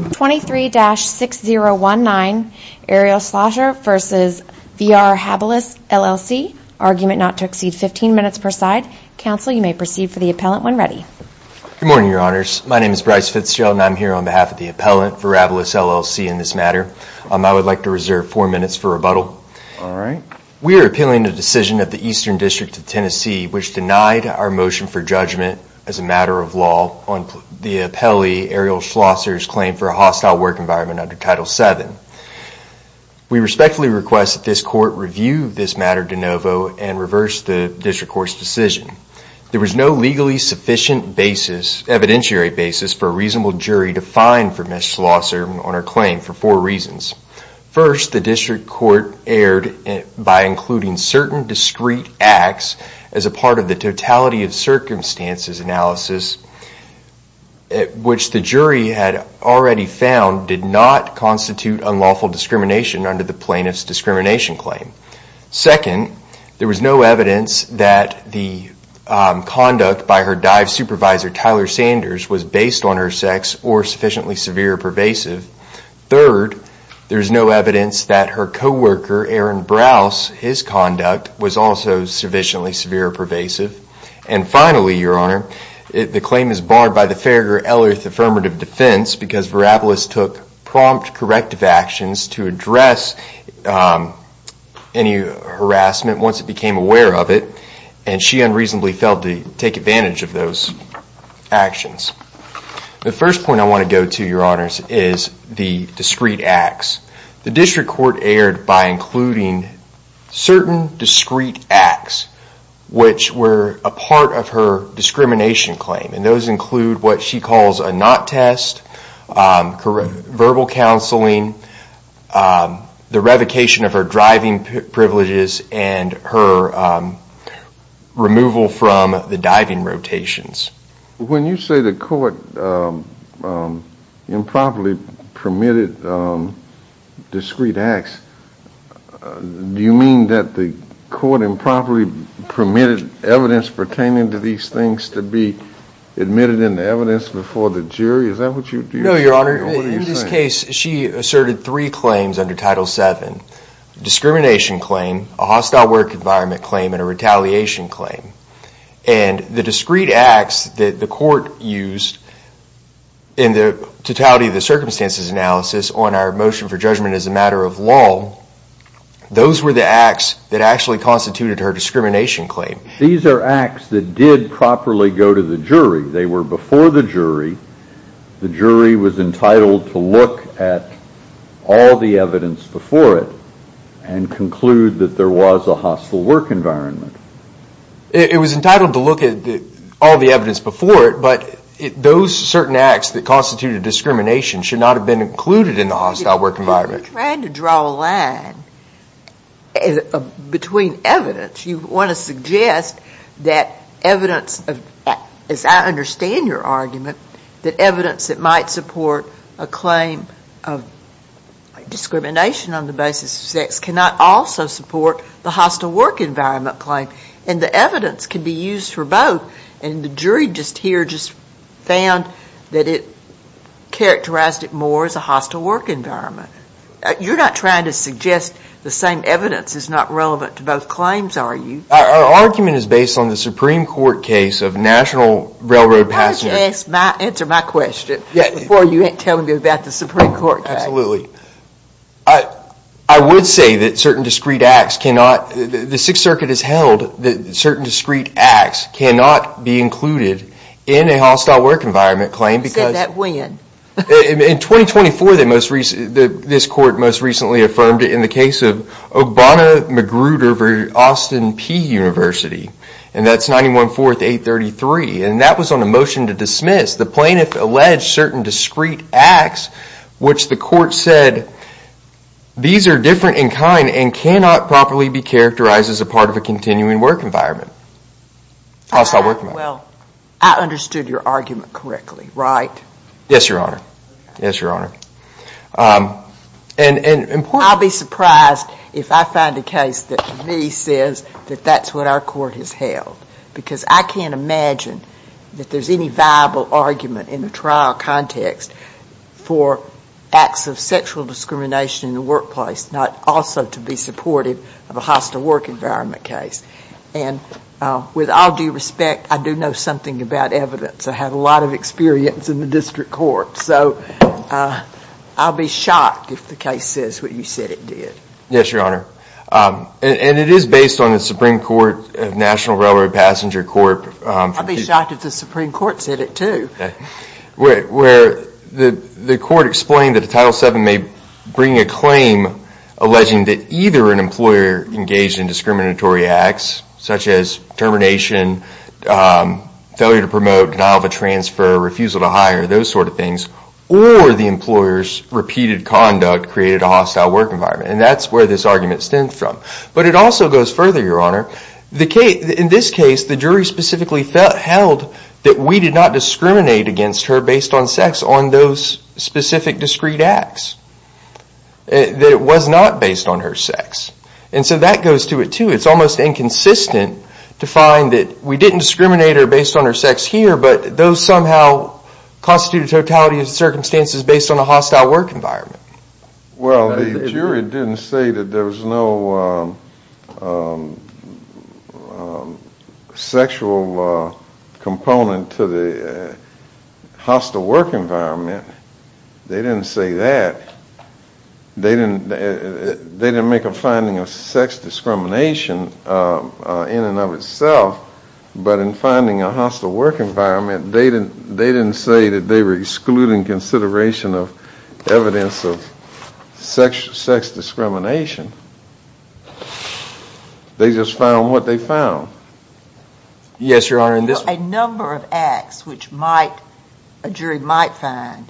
23-6019 Ariel Schlosser v. VRHabilis LLC Argument not to exceed 15 minutes per side. Counsel, you may proceed for the appellant when ready. Good morning, your honors. My name is Bryce Fitzgerald and I'm here on behalf of the appellant for VRHabilis LLC in this matter. I would like to reserve four minutes for rebuttal. All right. We are appealing the decision of the Eastern District of Tennessee which denied our motion for judgment as a matter of law on the appellee Ariel Schlosser's claim for a hostile work environment under Title VII. We respectfully request that this court review this matter de novo and reverse the district court's decision. There was no legally sufficient basis, evidentiary basis, for a reasonable jury to find for Ms. Schlosser on her claim for four reasons. First, the district court erred by including certain discrete acts as a part of the totality of circumstances analysis which the jury had already found did not constitute unlawful discrimination under the plaintiff's discrimination claim. Second, there was no evidence that the conduct by her dive supervisor Tyler Sanders was based on her sex or sufficiently severe or pervasive. Third, there is no evidence that her co-worker Aaron Brouse, his conduct was also sufficiently severe or pervasive. And finally, your honor, the claim is barred by the Farragher-Elliott Affirmative Defense because Verabilis took prompt corrective actions to address any harassment once it became aware of it and she unreasonably failed to take advantage of those actions. The first point I want to go to, your honors, is the discrete acts. The district court erred by including certain discrete acts which were a part of her discrimination claim and those include what she calls a not test, verbal counseling, the revocation of her driving privileges and her removal from the diving rotations. When you say the court improperly permitted discrete acts, do you mean that the court improperly permitted evidence pertaining to these things to be admitted in the evidence before the jury? Is that what you're saying? No, your honor. In this case, she asserted three claims under Title VII. Discrimination claim, a hostile work environment claim and a retaliation claim. And the discrete acts that the court used in the totality of the circumstances analysis on our motion for judgment as a matter of law, those were the acts that actually constituted her discrimination claim. These are acts that did properly go to the jury. They were before the jury. The jury was entitled to look at all the evidence before it and conclude that there was a hostile work environment. It was entitled to look at all the evidence before it, but those certain acts that constituted discrimination should not have been included in the hostile work environment. You're trying to draw a line between evidence. You want to suggest that evidence, as I understand your argument, that evidence that might support a claim of discrimination on the basis of sex cannot also support the hostile work environment claim. And the evidence can be used for both. And the jury just here just found that it characterized it more as a hostile work environment. You're not trying to suggest the same evidence is not relevant to both claims, are you? Our argument is based on the Supreme Court case of National Railroad Passengers. Answer my question before you end telling me about the Supreme Court case. Absolutely. I would say that certain discrete acts cannot, the Sixth Circuit has held that certain discrete acts cannot be included in a hostile work environment claim. You said that when? In 2024, this court most recently affirmed it in the case of Obama Magruder v. Austin P. University. And that's 91-4-833. And that was on a motion to dismiss. The plaintiff alleged certain discrete acts which the court said these are different in kind and cannot properly be characterized as a part of a continuing work environment. Hostile work environment. Well, I understood your argument correctly, right? Yes, Your Honor. Yes, Your Honor. And important. I'll be surprised if I find a case that to me says that that's what our court has held. Because I can't imagine that there's any viable argument in the trial context for acts of sexual discrimination in the workplace not also to be supportive of a hostile work environment case. And with all due respect, I do know something about evidence. I have a lot of experience in the district court. So I'll be shocked if the case says what you said it did. Yes, Your Honor. And it is based on the Supreme Court National Railroad Passenger Court. I'll be shocked if the Supreme Court said it too. Where the court explained that the Title VII may bring a claim alleging that either an employer engaged in discriminatory acts such as termination, failure to promote, denial of a transfer, refusal to hire, those sort of things, or the employer's repeated conduct created a hostile work environment. And that's where this argument stems from. But it also goes further, Your Honor. In this case, the jury specifically held that we did not discriminate against her based on sex on those specific discrete acts, that it was not based on her sex. And so that goes to it too. It's almost inconsistent to find that we didn't discriminate her based on her sex here, but those somehow constitute a totality of circumstances based on a hostile work environment. Well, the jury didn't say that there was no sexual component to the hostile work environment. They didn't say that. They didn't make a finding of sex discrimination in and of itself, but in finding a hostile work environment, they didn't say that they were excluding consideration of evidence of sex discrimination. They just found what they found. Yes, Your Honor, in this one. A number of acts which a jury might find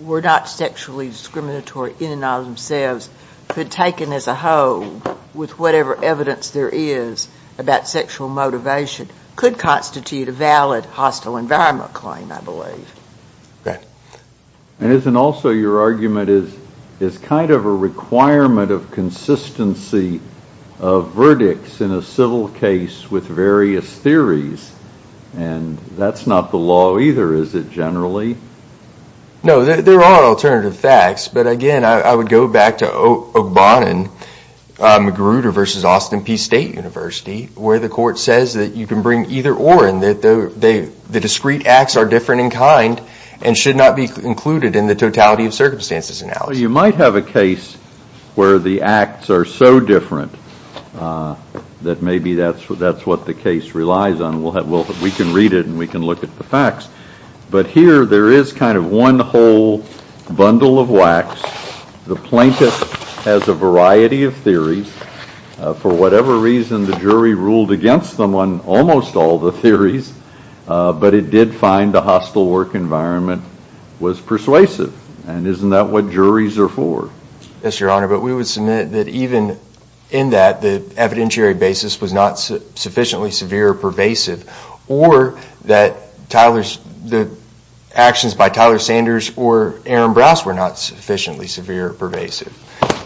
were not sexually discriminatory in and of themselves could taken as a whole with whatever evidence there is about sexual motivation could constitute a valid hostile environment claim, I believe. And isn't also your argument is kind of a requirement of consistency of verdicts in a civil case with various theories, and that's not the law either, is it generally? No, there are alternative facts, but again, I would go back to O'Bannon, Magruder v. Austin Peay State University, where the court says that you can bring either or, and the discrete acts are different in kind and should not be included in the totality of circumstances analysis. You might have a case where the acts are so different that maybe that's what the case relies on. We can read it and we can look at the facts, but here there is kind of one whole bundle of wax. The plaintiff has a variety of theories. For whatever reason, the jury ruled against them on almost all the theories, but it did find the hostile work environment was persuasive. And isn't that what juries are for? Yes, Your Honor, but we would submit that even in that, the evidentiary basis was not sufficiently severe or pervasive, or that Tyler's, the actions by Tyler Sanders or Aaron Brouse were not sufficiently severe or pervasive.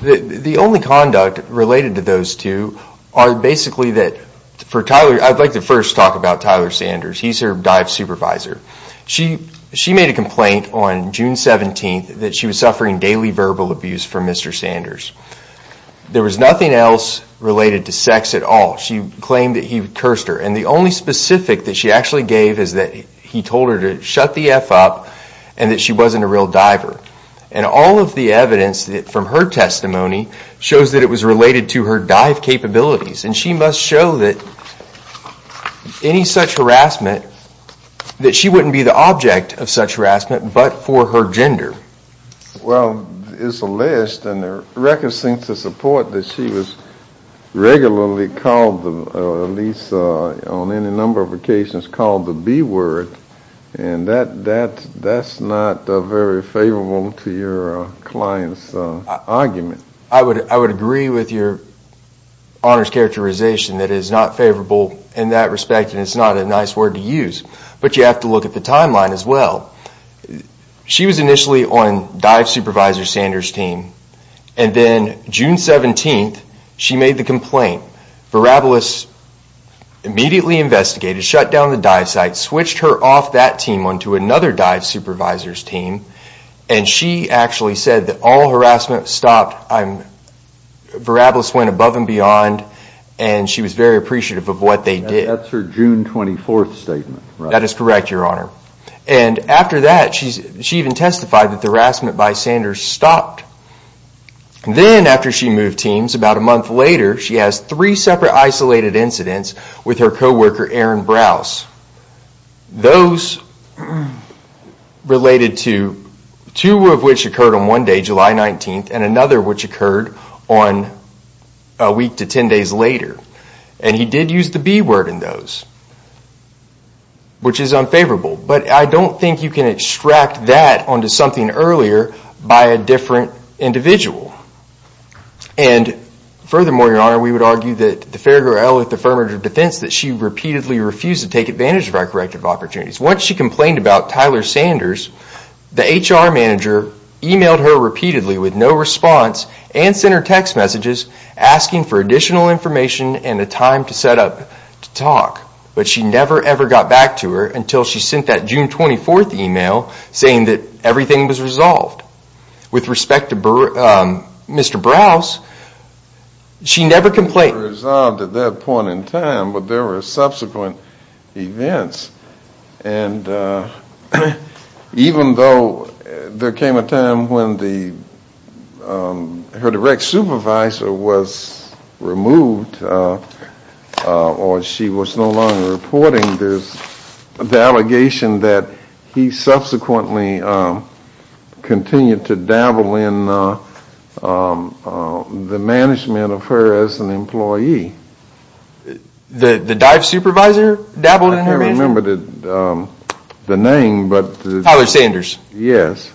The only conduct related to those two are basically that for Tyler, I'd like to first talk about Tyler Sanders. He's her dive supervisor. She made a complaint on June 17th that she was suffering daily verbal abuse from Mr. Sanders. There was nothing else related to sex at all. She claimed that he cursed her and the only specific that she actually gave is that he told her to shut the F up and that she wasn't a real diver. And all of the evidence from her testimony shows that it was related to her dive capabilities. And she must show that any such harassment, that she wouldn't be the object of such harassment but for her gender. Well, it's a list and the records seem to support that she was regularly called, at least on any number of occasions, called the B word. And that's not very favorable to your client's argument. I would agree with your honors characterization that it is not favorable in that respect and it's not a nice word to use. But you have to look at the timeline as well. She was initially on dive supervisor Sanders' team. And then June 17th, she made the complaint. Verabilis immediately investigated, shut down the dive site, switched her off that team onto another dive supervisor's team. And she actually said that all harassment stopped. Verabilis went above and beyond and she was very appreciative of what they did. That's her June 24th statement, right? That is correct, your honor. And after that, she even testified that the harassment by Sanders stopped. Then after she moved teams, about a month later, she has three separate isolated incidents with her coworker, Aaron Brouse. Those related to two of which occurred on one day, July 19th, and another which occurred on a week to 10 days later. And he did use the B word in those, which is unfavorable. But I don't think you can extract that onto something earlier by a different individual. And furthermore, your honor, we would argue that the fair girl with the firm of defense that she repeatedly refused to take advantage of our corrective opportunities. Once she complained about Tyler Sanders, the HR manager emailed her repeatedly with no response and sent her text messages asking for additional information and a time to set up to talk. But she never ever got back to her until she sent that June 24th email saying that everything was resolved. With respect to Mr. Brouse, she never complained. It was resolved at that point in time, but there were subsequent events. And even though there came a time when her direct supervisor was removed or she was no longer reporting, there's the allegation that he subsequently continued to dabble in the management of her as an employee. The dive supervisor dabbled in her management? I can't remember the name, but. Tyler Sanders. Yes.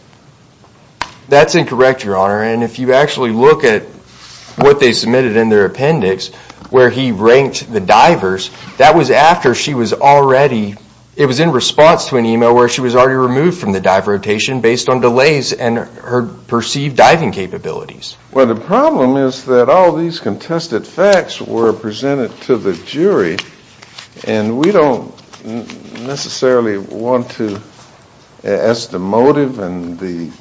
That's incorrect, your honor. And if you actually look at what they submitted in their appendix where he ranked the divers, that was after she was already, it was in response to an email where she was already removed from the dive rotation based on delays and her perceived diving capabilities. Well, the problem is that all these contested facts were presented to the jury and we don't necessarily want to, as the motive and the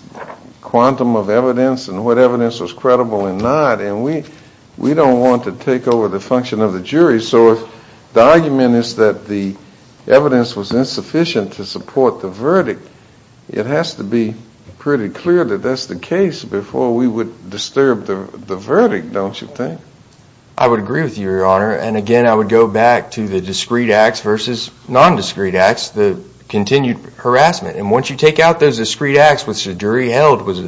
quantum of evidence and what evidence was credible and not, and we don't want to take over the function of the jury. So if the argument is that the evidence was insufficient to support the verdict, it has to be pretty clear that that's the case before we would disturb the verdict, don't you think? I would agree with you, your honor. And again, I would go back to the discreet acts versus non-discreet acts, the continued harassment. And once you take out those discreet acts, which the jury held was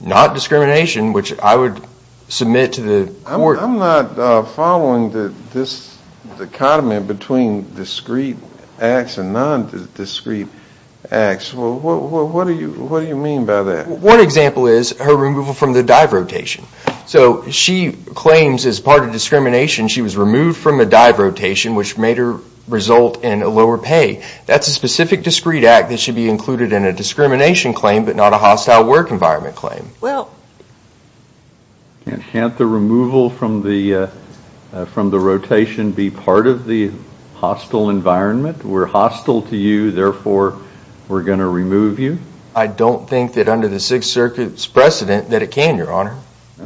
not discrimination, which I would submit to the court. I'm not following this dichotomy between discreet acts and non-discreet acts. What do you mean by that? One example is her removal from the dive rotation. So she claims as part of discrimination she was removed from the dive rotation, which made her result in a lower pay. That's a specific discreet act that should be included in a discrimination claim but not a hostile work environment claim. Can't the removal from the rotation be part of the hostile environment? We're hostile to you, therefore we're going to remove you? I don't think that under the Sixth Circuit's precedent that it can, your honor.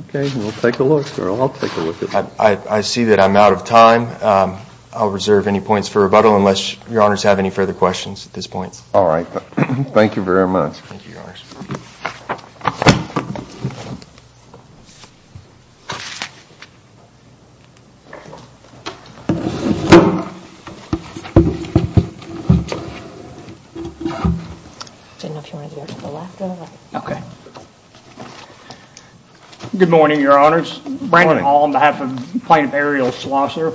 Okay, we'll take a look. I'll take a look at that. I see that I'm out of time. I'll reserve any points for rebuttal unless your honors have any further questions at this point. All right. Thank you very much. Thank you, your honors. Good morning, your honors. Good morning. Brandon Hall on behalf of Plaintiff Ariel Schlosser.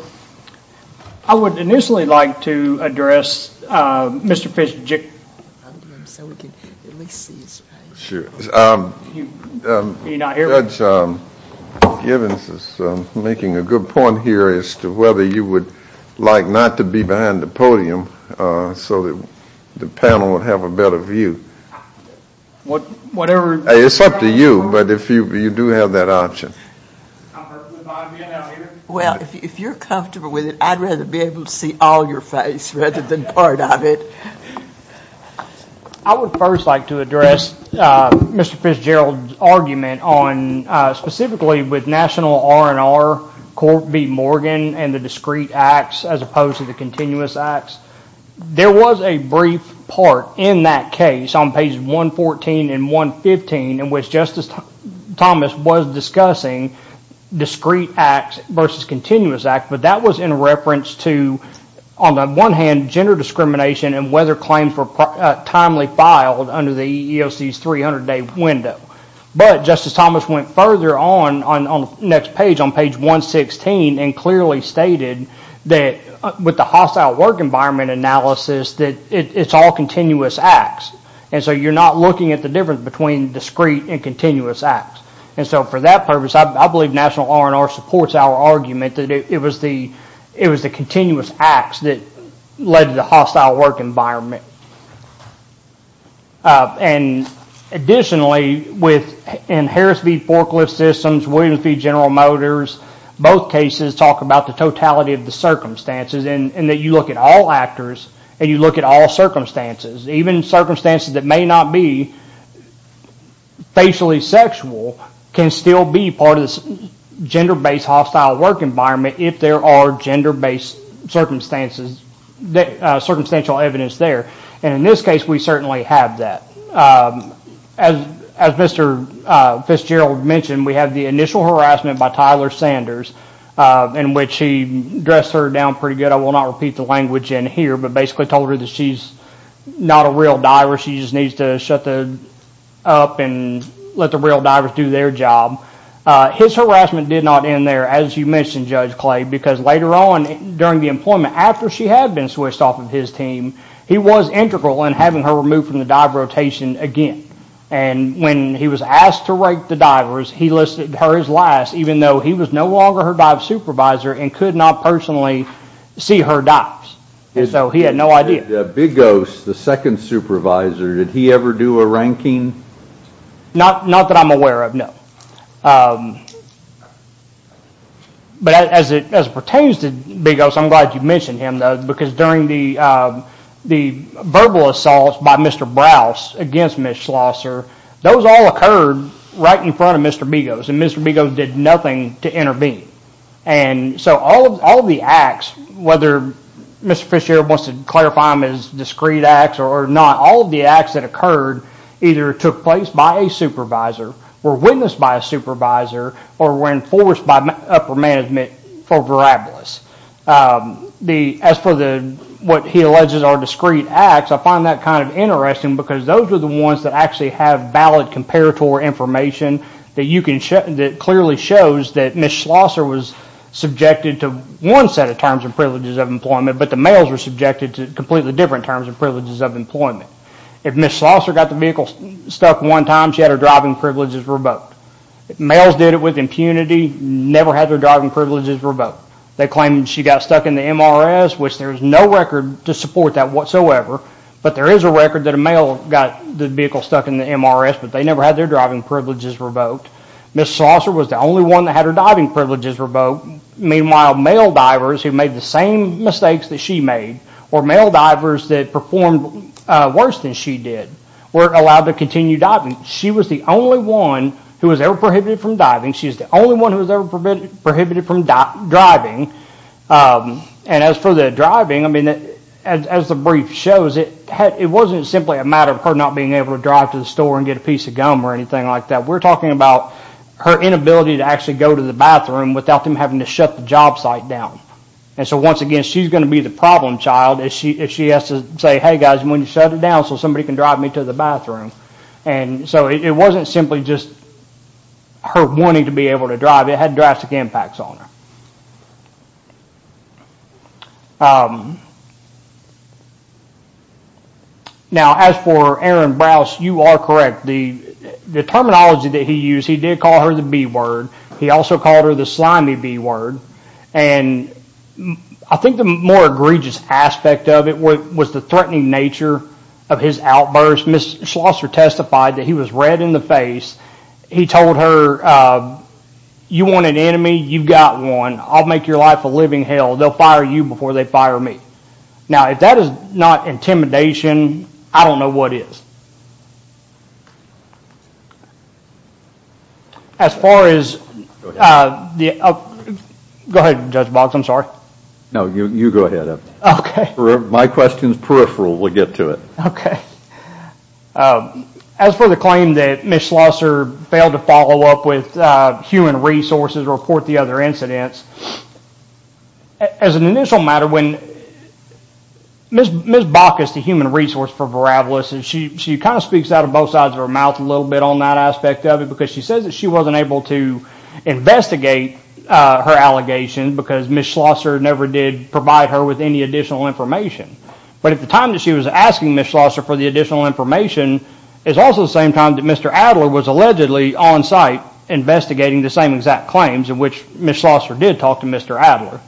I would initially like to address Mr. Fisher. So we can at least see his face. Are you not here? Judge Givens is making a good point here as to whether you would like not to be behind the podium so that the panel would have a better view. Whatever. It's up to you, but if you do have that option. Well, if you're comfortable with it, I'd rather be able to see all your face rather than part of it. I would first like to address Mr. Fitzgerald's argument on specifically with National R&R, Court v. Morgan and the discrete acts as opposed to the continuous acts. There was a brief part in that case on pages 114 and 115 in which Justice Thomas was discussing discrete acts versus continuous acts, but that was in reference to, on the one hand, gender discrimination and whether claims were timely filed under the EEOC's 300-day window. But Justice Thomas went further on the next page on page 116 and clearly stated that with the hostile work environment analysis, that it's all continuous acts. And so you're not looking at the difference between discrete and continuous acts. And so for that purpose, I believe National R&R supports our argument that it was the continuous acts that led to the hostile work environment. And additionally, in Harris v. Forklift Systems, Williams v. General Motors, both cases talk about the totality of the circumstances and that you look at all actors and you look at all circumstances. Even circumstances that may not be facially sexual can still be part of this gender-based hostile work environment if there are gender-based circumstances, circumstantial evidence there. And in this case, we certainly have that. As Mr. Fitzgerald mentioned, we have the initial harassment by Tyler Sanders in which he dressed her down pretty good. I will not repeat the language in here, but basically told her that she's not a real diver. She just needs to shut up and let the real divers do their job. His harassment did not end there, as you mentioned, Judge Clay, because later on during the employment, after she had been switched off of his team, he was integral in having her removed from the dive rotation again. And when he was asked to rate the divers, he listed her as last, even though he was no longer her dive supervisor and could not personally see her dives. And so he had no idea. Bigos, the second supervisor, did he ever do a ranking? Not that I'm aware of, no. But as it pertains to Bigos, I'm glad you mentioned him, though, because during the verbal assaults by Mr. Browse against Ms. Schlosser, those all occurred right in front of Mr. Bigos, and Mr. Bigos did nothing to intervene. And so all of the acts, whether Mr. Fitzgerald wants to clarify them as discrete acts or not, all of the acts that occurred either took place by a supervisor, were witnessed by a supervisor, or were enforced by upper management for Verabilis. As for what he alleges are discrete acts, I find that kind of interesting, because those are the ones that actually have valid comparator information that clearly shows that Ms. Schlosser was subjected to one set of terms and privileges of employment, but the males were subjected to completely different terms and privileges of employment. If Ms. Schlosser got the vehicle stuck one time, she had her driving privileges revoked. If males did it with impunity, never had their driving privileges revoked. They claim she got stuck in the MRS, which there is no record to support that whatsoever, but there is a record that a male got the vehicle stuck in the MRS, but they never had their driving privileges revoked. Ms. Schlosser was the only one that had her diving privileges revoked. Meanwhile, male divers who made the same mistakes that she made, or male divers that performed worse than she did, were allowed to continue diving. She was the only one who was ever prohibited from diving. As for the driving, as the brief shows, it wasn't simply a matter of her not being able to drive to the store and get a piece of gum or anything like that. We're talking about her inability to actually go to the bathroom without them having to shut the job site down. Once again, she's going to be the problem child if she has to say, hey guys, I'm going to shut it down so somebody can drive me to the bathroom. It wasn't simply just her wanting to go to the bathroom, it had drastic impacts on her. As for Erin Brouse, you are correct. The terminology that he used, he did call her the B word. He also called her the slimy B word. I think the more egregious aspect of it was the threatening nature of his outburst. Ms. Schlosser testified that he was red in the face. He told her, you want an enemy, you've got one. I'll make your life a living hell. They'll fire you before they fire me. Now, if that is not intimidation, I don't know what is. Go ahead, Judge Box, I'm sorry. No, you go ahead. My question is peripheral. We'll get to it. Okay. As for the claim that Ms. Schlosser failed to follow up with human resources or report the other incidents, as an initial matter, when Ms. Bacchus, the human resource for Veravalis, she kind of speaks out of both sides of her mouth a little bit on that aspect of it because she says that she wasn't able to investigate her allegations because Ms. Schlosser never did provide her with any additional information. But at the time that she was asking Ms. Schlosser for the additional information is also the same time that Mr. Adler was allegedly on site investigating the same exact claims in which Ms. Schlosser did talk to Mr. Adler.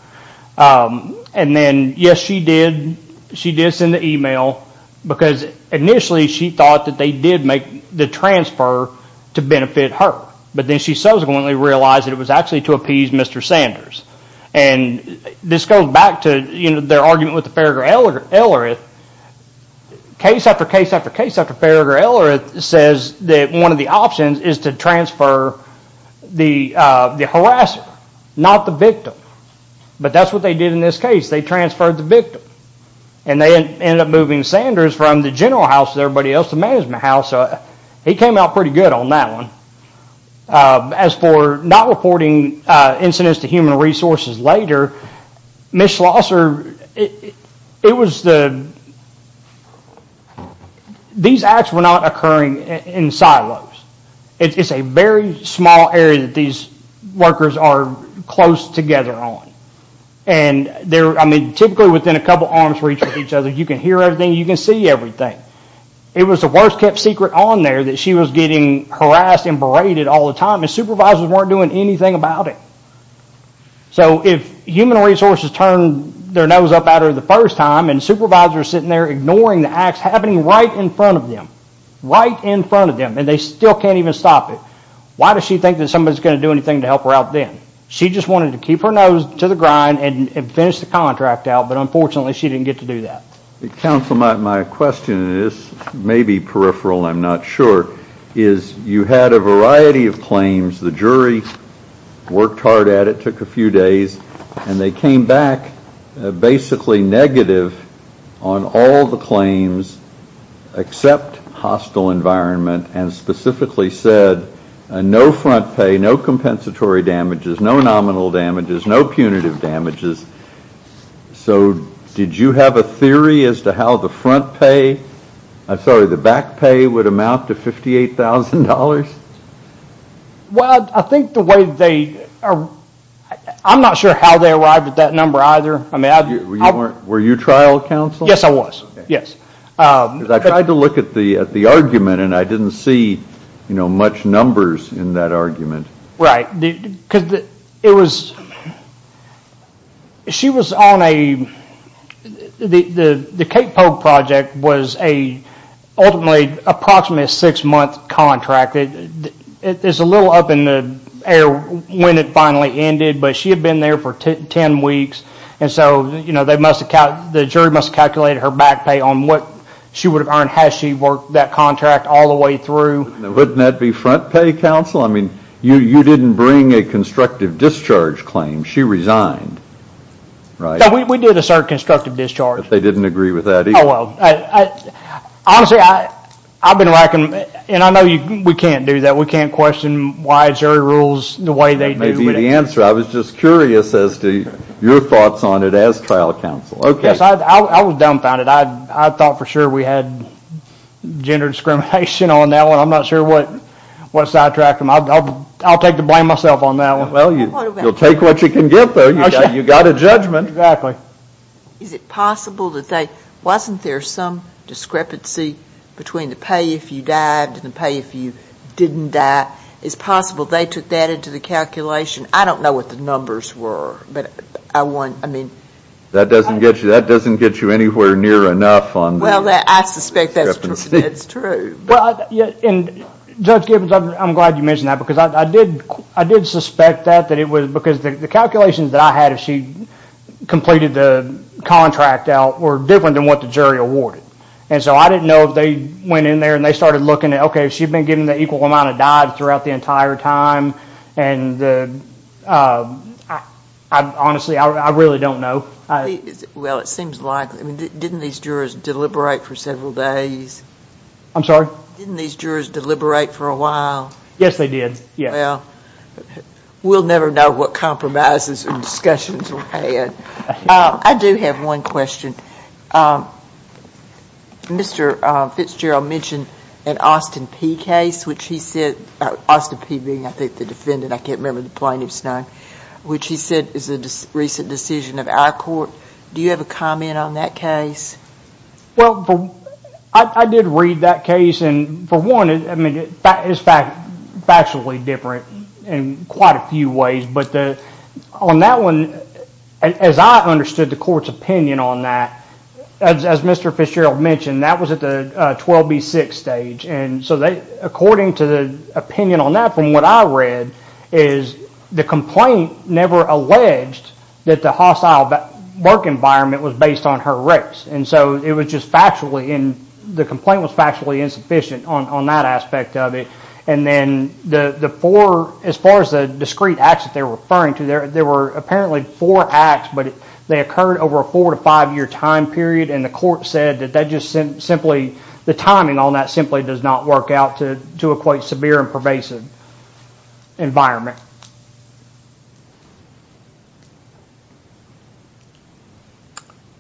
And then, yes, she did send the email because initially she thought that they did make the transfer to benefit her. But then she subsequently realized that it was actually to appease Mr. Sanders. And this goes back to their argument with the Farragher-Ellerith. Case after case after case after Farragher-Ellerith says that one of the options is to transfer the harasser, not the victim. But that's what they did in this case. They transferred the victim. And they ended up moving Sanders from the general house to everybody else's management house. He came out pretty good on that one. As for not reporting incidents to human resources later, Ms. Schlosser, it was the... These acts were not occurring in silos. It's a very small area that these workers are close together on. And, I mean, typically within a couple of arm's reach of each other you can hear everything, you can see everything. It was the worst kept secret on there that she was getting harassed and berated all the time. And supervisors weren't doing anything about it. So if human resources turned their nose up at her the first time and supervisors sitting there ignoring the acts happening right in front of them, right in front of them, and they still can't even stop it, why does she think that somebody is going to do anything to help her out then? She just wanted to keep her nose to the grind and finish the contract out, but unfortunately she didn't get to do that. Counsel, my question, and this may be peripheral, I'm not sure, is you had a variety of claims. The jury worked hard at it, took a few days, and they came back basically negative on all the claims except hostile environment and specifically said no front pay, no compensatory damages, no nominal damages, no punitive damages. So did you have a theory as to how the front pay, I'm sorry, the back pay would amount to $58,000? Well, I think the way they, I'm not sure how they arrived at that number either. Were you trial counsel? Yes, I was, yes. Because I tried to look at the argument and I didn't see much numbers in that argument. Right, because it was, she was on a, the Cape Polk project was a, ultimately, approximately a six month contract. It's a little up in the air when it finally ended, but she had been there for ten weeks, and so they must have, the jury must have calculated her back pay on what she would have earned had she worked that contract all the way through. Wouldn't that be front pay, counsel? I mean, you didn't bring a constructive discharge claim. She resigned, right? We did assert constructive discharge. But they didn't agree with that either? Honestly, I've been racking, and I know we can't do that, we can't question why jury rules the way they do. That may be the answer. I was just curious as to your thoughts on it as trial counsel. Yes, I was dumbfounded. I thought for sure we had gender discrimination on that one. I'm not sure what sidetracked them. I'll take the blame myself on that one. Well, you'll take what you can get, though. You got a judgment. Is it possible that they, wasn't there some discrepancy between the pay if you died and the pay if you didn't die? Is it possible they took that into the calculation? I don't know what the numbers were, but I want, I mean. That doesn't get you anywhere near enough on the discrepancy. Well, I suspect that's true. Judge Gibbons, I'm glad you mentioned that because I did suspect that, that it was because the calculations that I had if she completed the contract out were different than what the jury awarded. And so I didn't know if they went in there and they started looking at, okay, if she'd been given the equal amount of dimes throughout the entire time, and honestly, I really don't know. Well, it seems like, didn't these jurors deliberate for several days? I'm sorry? Didn't these jurors deliberate for a while? Yes, they did, yes. Well, we'll never know what compromises and discussions were had. I do have one question. Mr. Fitzgerald mentioned an Austin Peay case, which he said, Austin Peay being, I think, the defendant, I can't remember the plaintiff's name, which he said is a recent decision of our court. Do you have a comment on that case? Well, I did read that case, and for one, it's factually different in quite a few ways. But on that one, as I understood the court's opinion on that, as Mr. Fitzgerald mentioned, that was at the 12B6 stage. And so according to the opinion on that from what I read is the complaint never alleged that the hostile work environment was based on her race. And so it was just factually, the complaint was factually insufficient on that aspect of it. And then the four, as far as the discrete acts that they're referring to, there were apparently four acts, but they occurred over a four to five year time period, and the court said that that just simply, the timing on that simply does not work out to equate severe and pervasive environment.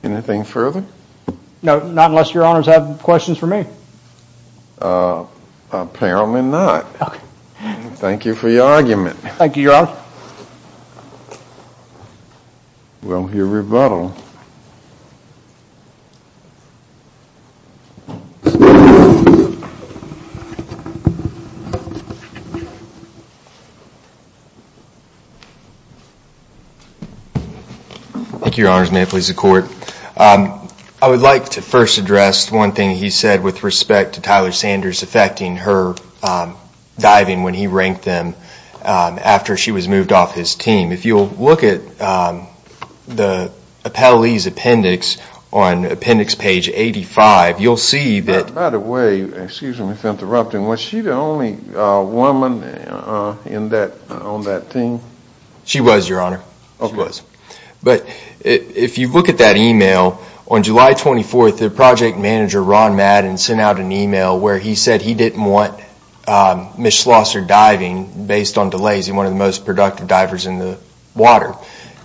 Anything further? No, not unless your honors have questions for me. Apparently not. Thank you for your argument. Thank you, your honor. We'll hear rebuttal. Thank you. Thank you, your honors. May it please the court. I would like to first address one thing he said with respect to Tyler Sanders affecting her diving when he ranked them after she was moved off his team. If you'll look at the appellee's appendix on appendix page 85, you'll see that... By the way, excuse me for interrupting, was she the only woman on that team? She was, your honor. If you look at that email, on July 24th, the project manager Ron Madden sent out an email where he said he didn't want Ms. Schlosser diving based on delays, he's one of the most productive divers in the water.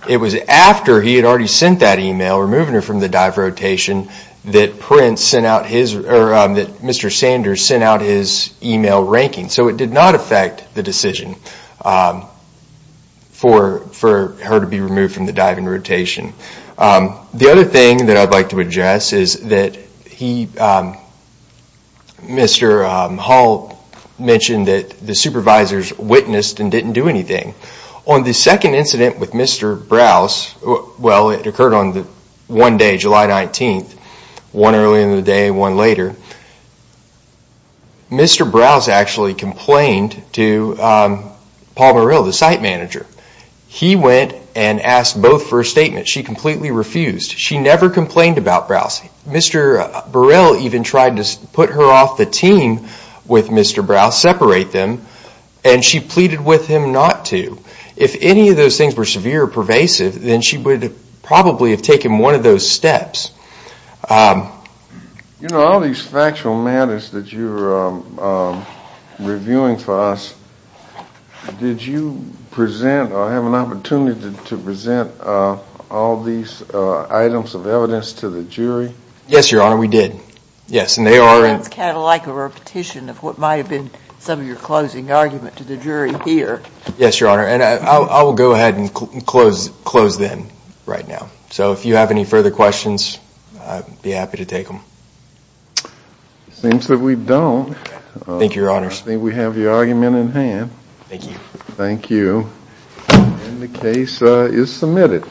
It was after he had already sent that email, removing her from the dive rotation, that Mr. Sanders sent out his email ranking. So it did not affect the decision for her to be removed from the diving rotation. The other thing that I'd like to address is that Mr. Hall mentioned that the supervisors witnessed and didn't do anything. On the second incident with Mr. Browse, it occurred on one day, July 19th, one earlier in the day, one later, Mr. Browse actually complained to Paul Burrell, the site manager. He went and asked both for a statement. She completely refused. She never complained about Browse. Mr. Burrell even tried to put her off the team with Mr. Browse, separate them, and she pleaded with him not to. If any of those things were severe or pervasive, then she would probably have taken one of those steps. You know, all these factual matters that you're reviewing for us, did you present or have an opportunity to present all these items of evidence to the jury? Yes, Your Honor, we did. That's kind of like a repetition of what might have been some of your closing argument to the jury here. Yes, Your Honor, and I will go ahead and close them right now. So if you have any further questions, I'd be happy to take them. Seems that we don't. Thank you, Your Honors. I think we have your argument in hand. Thank you. The case is submitted.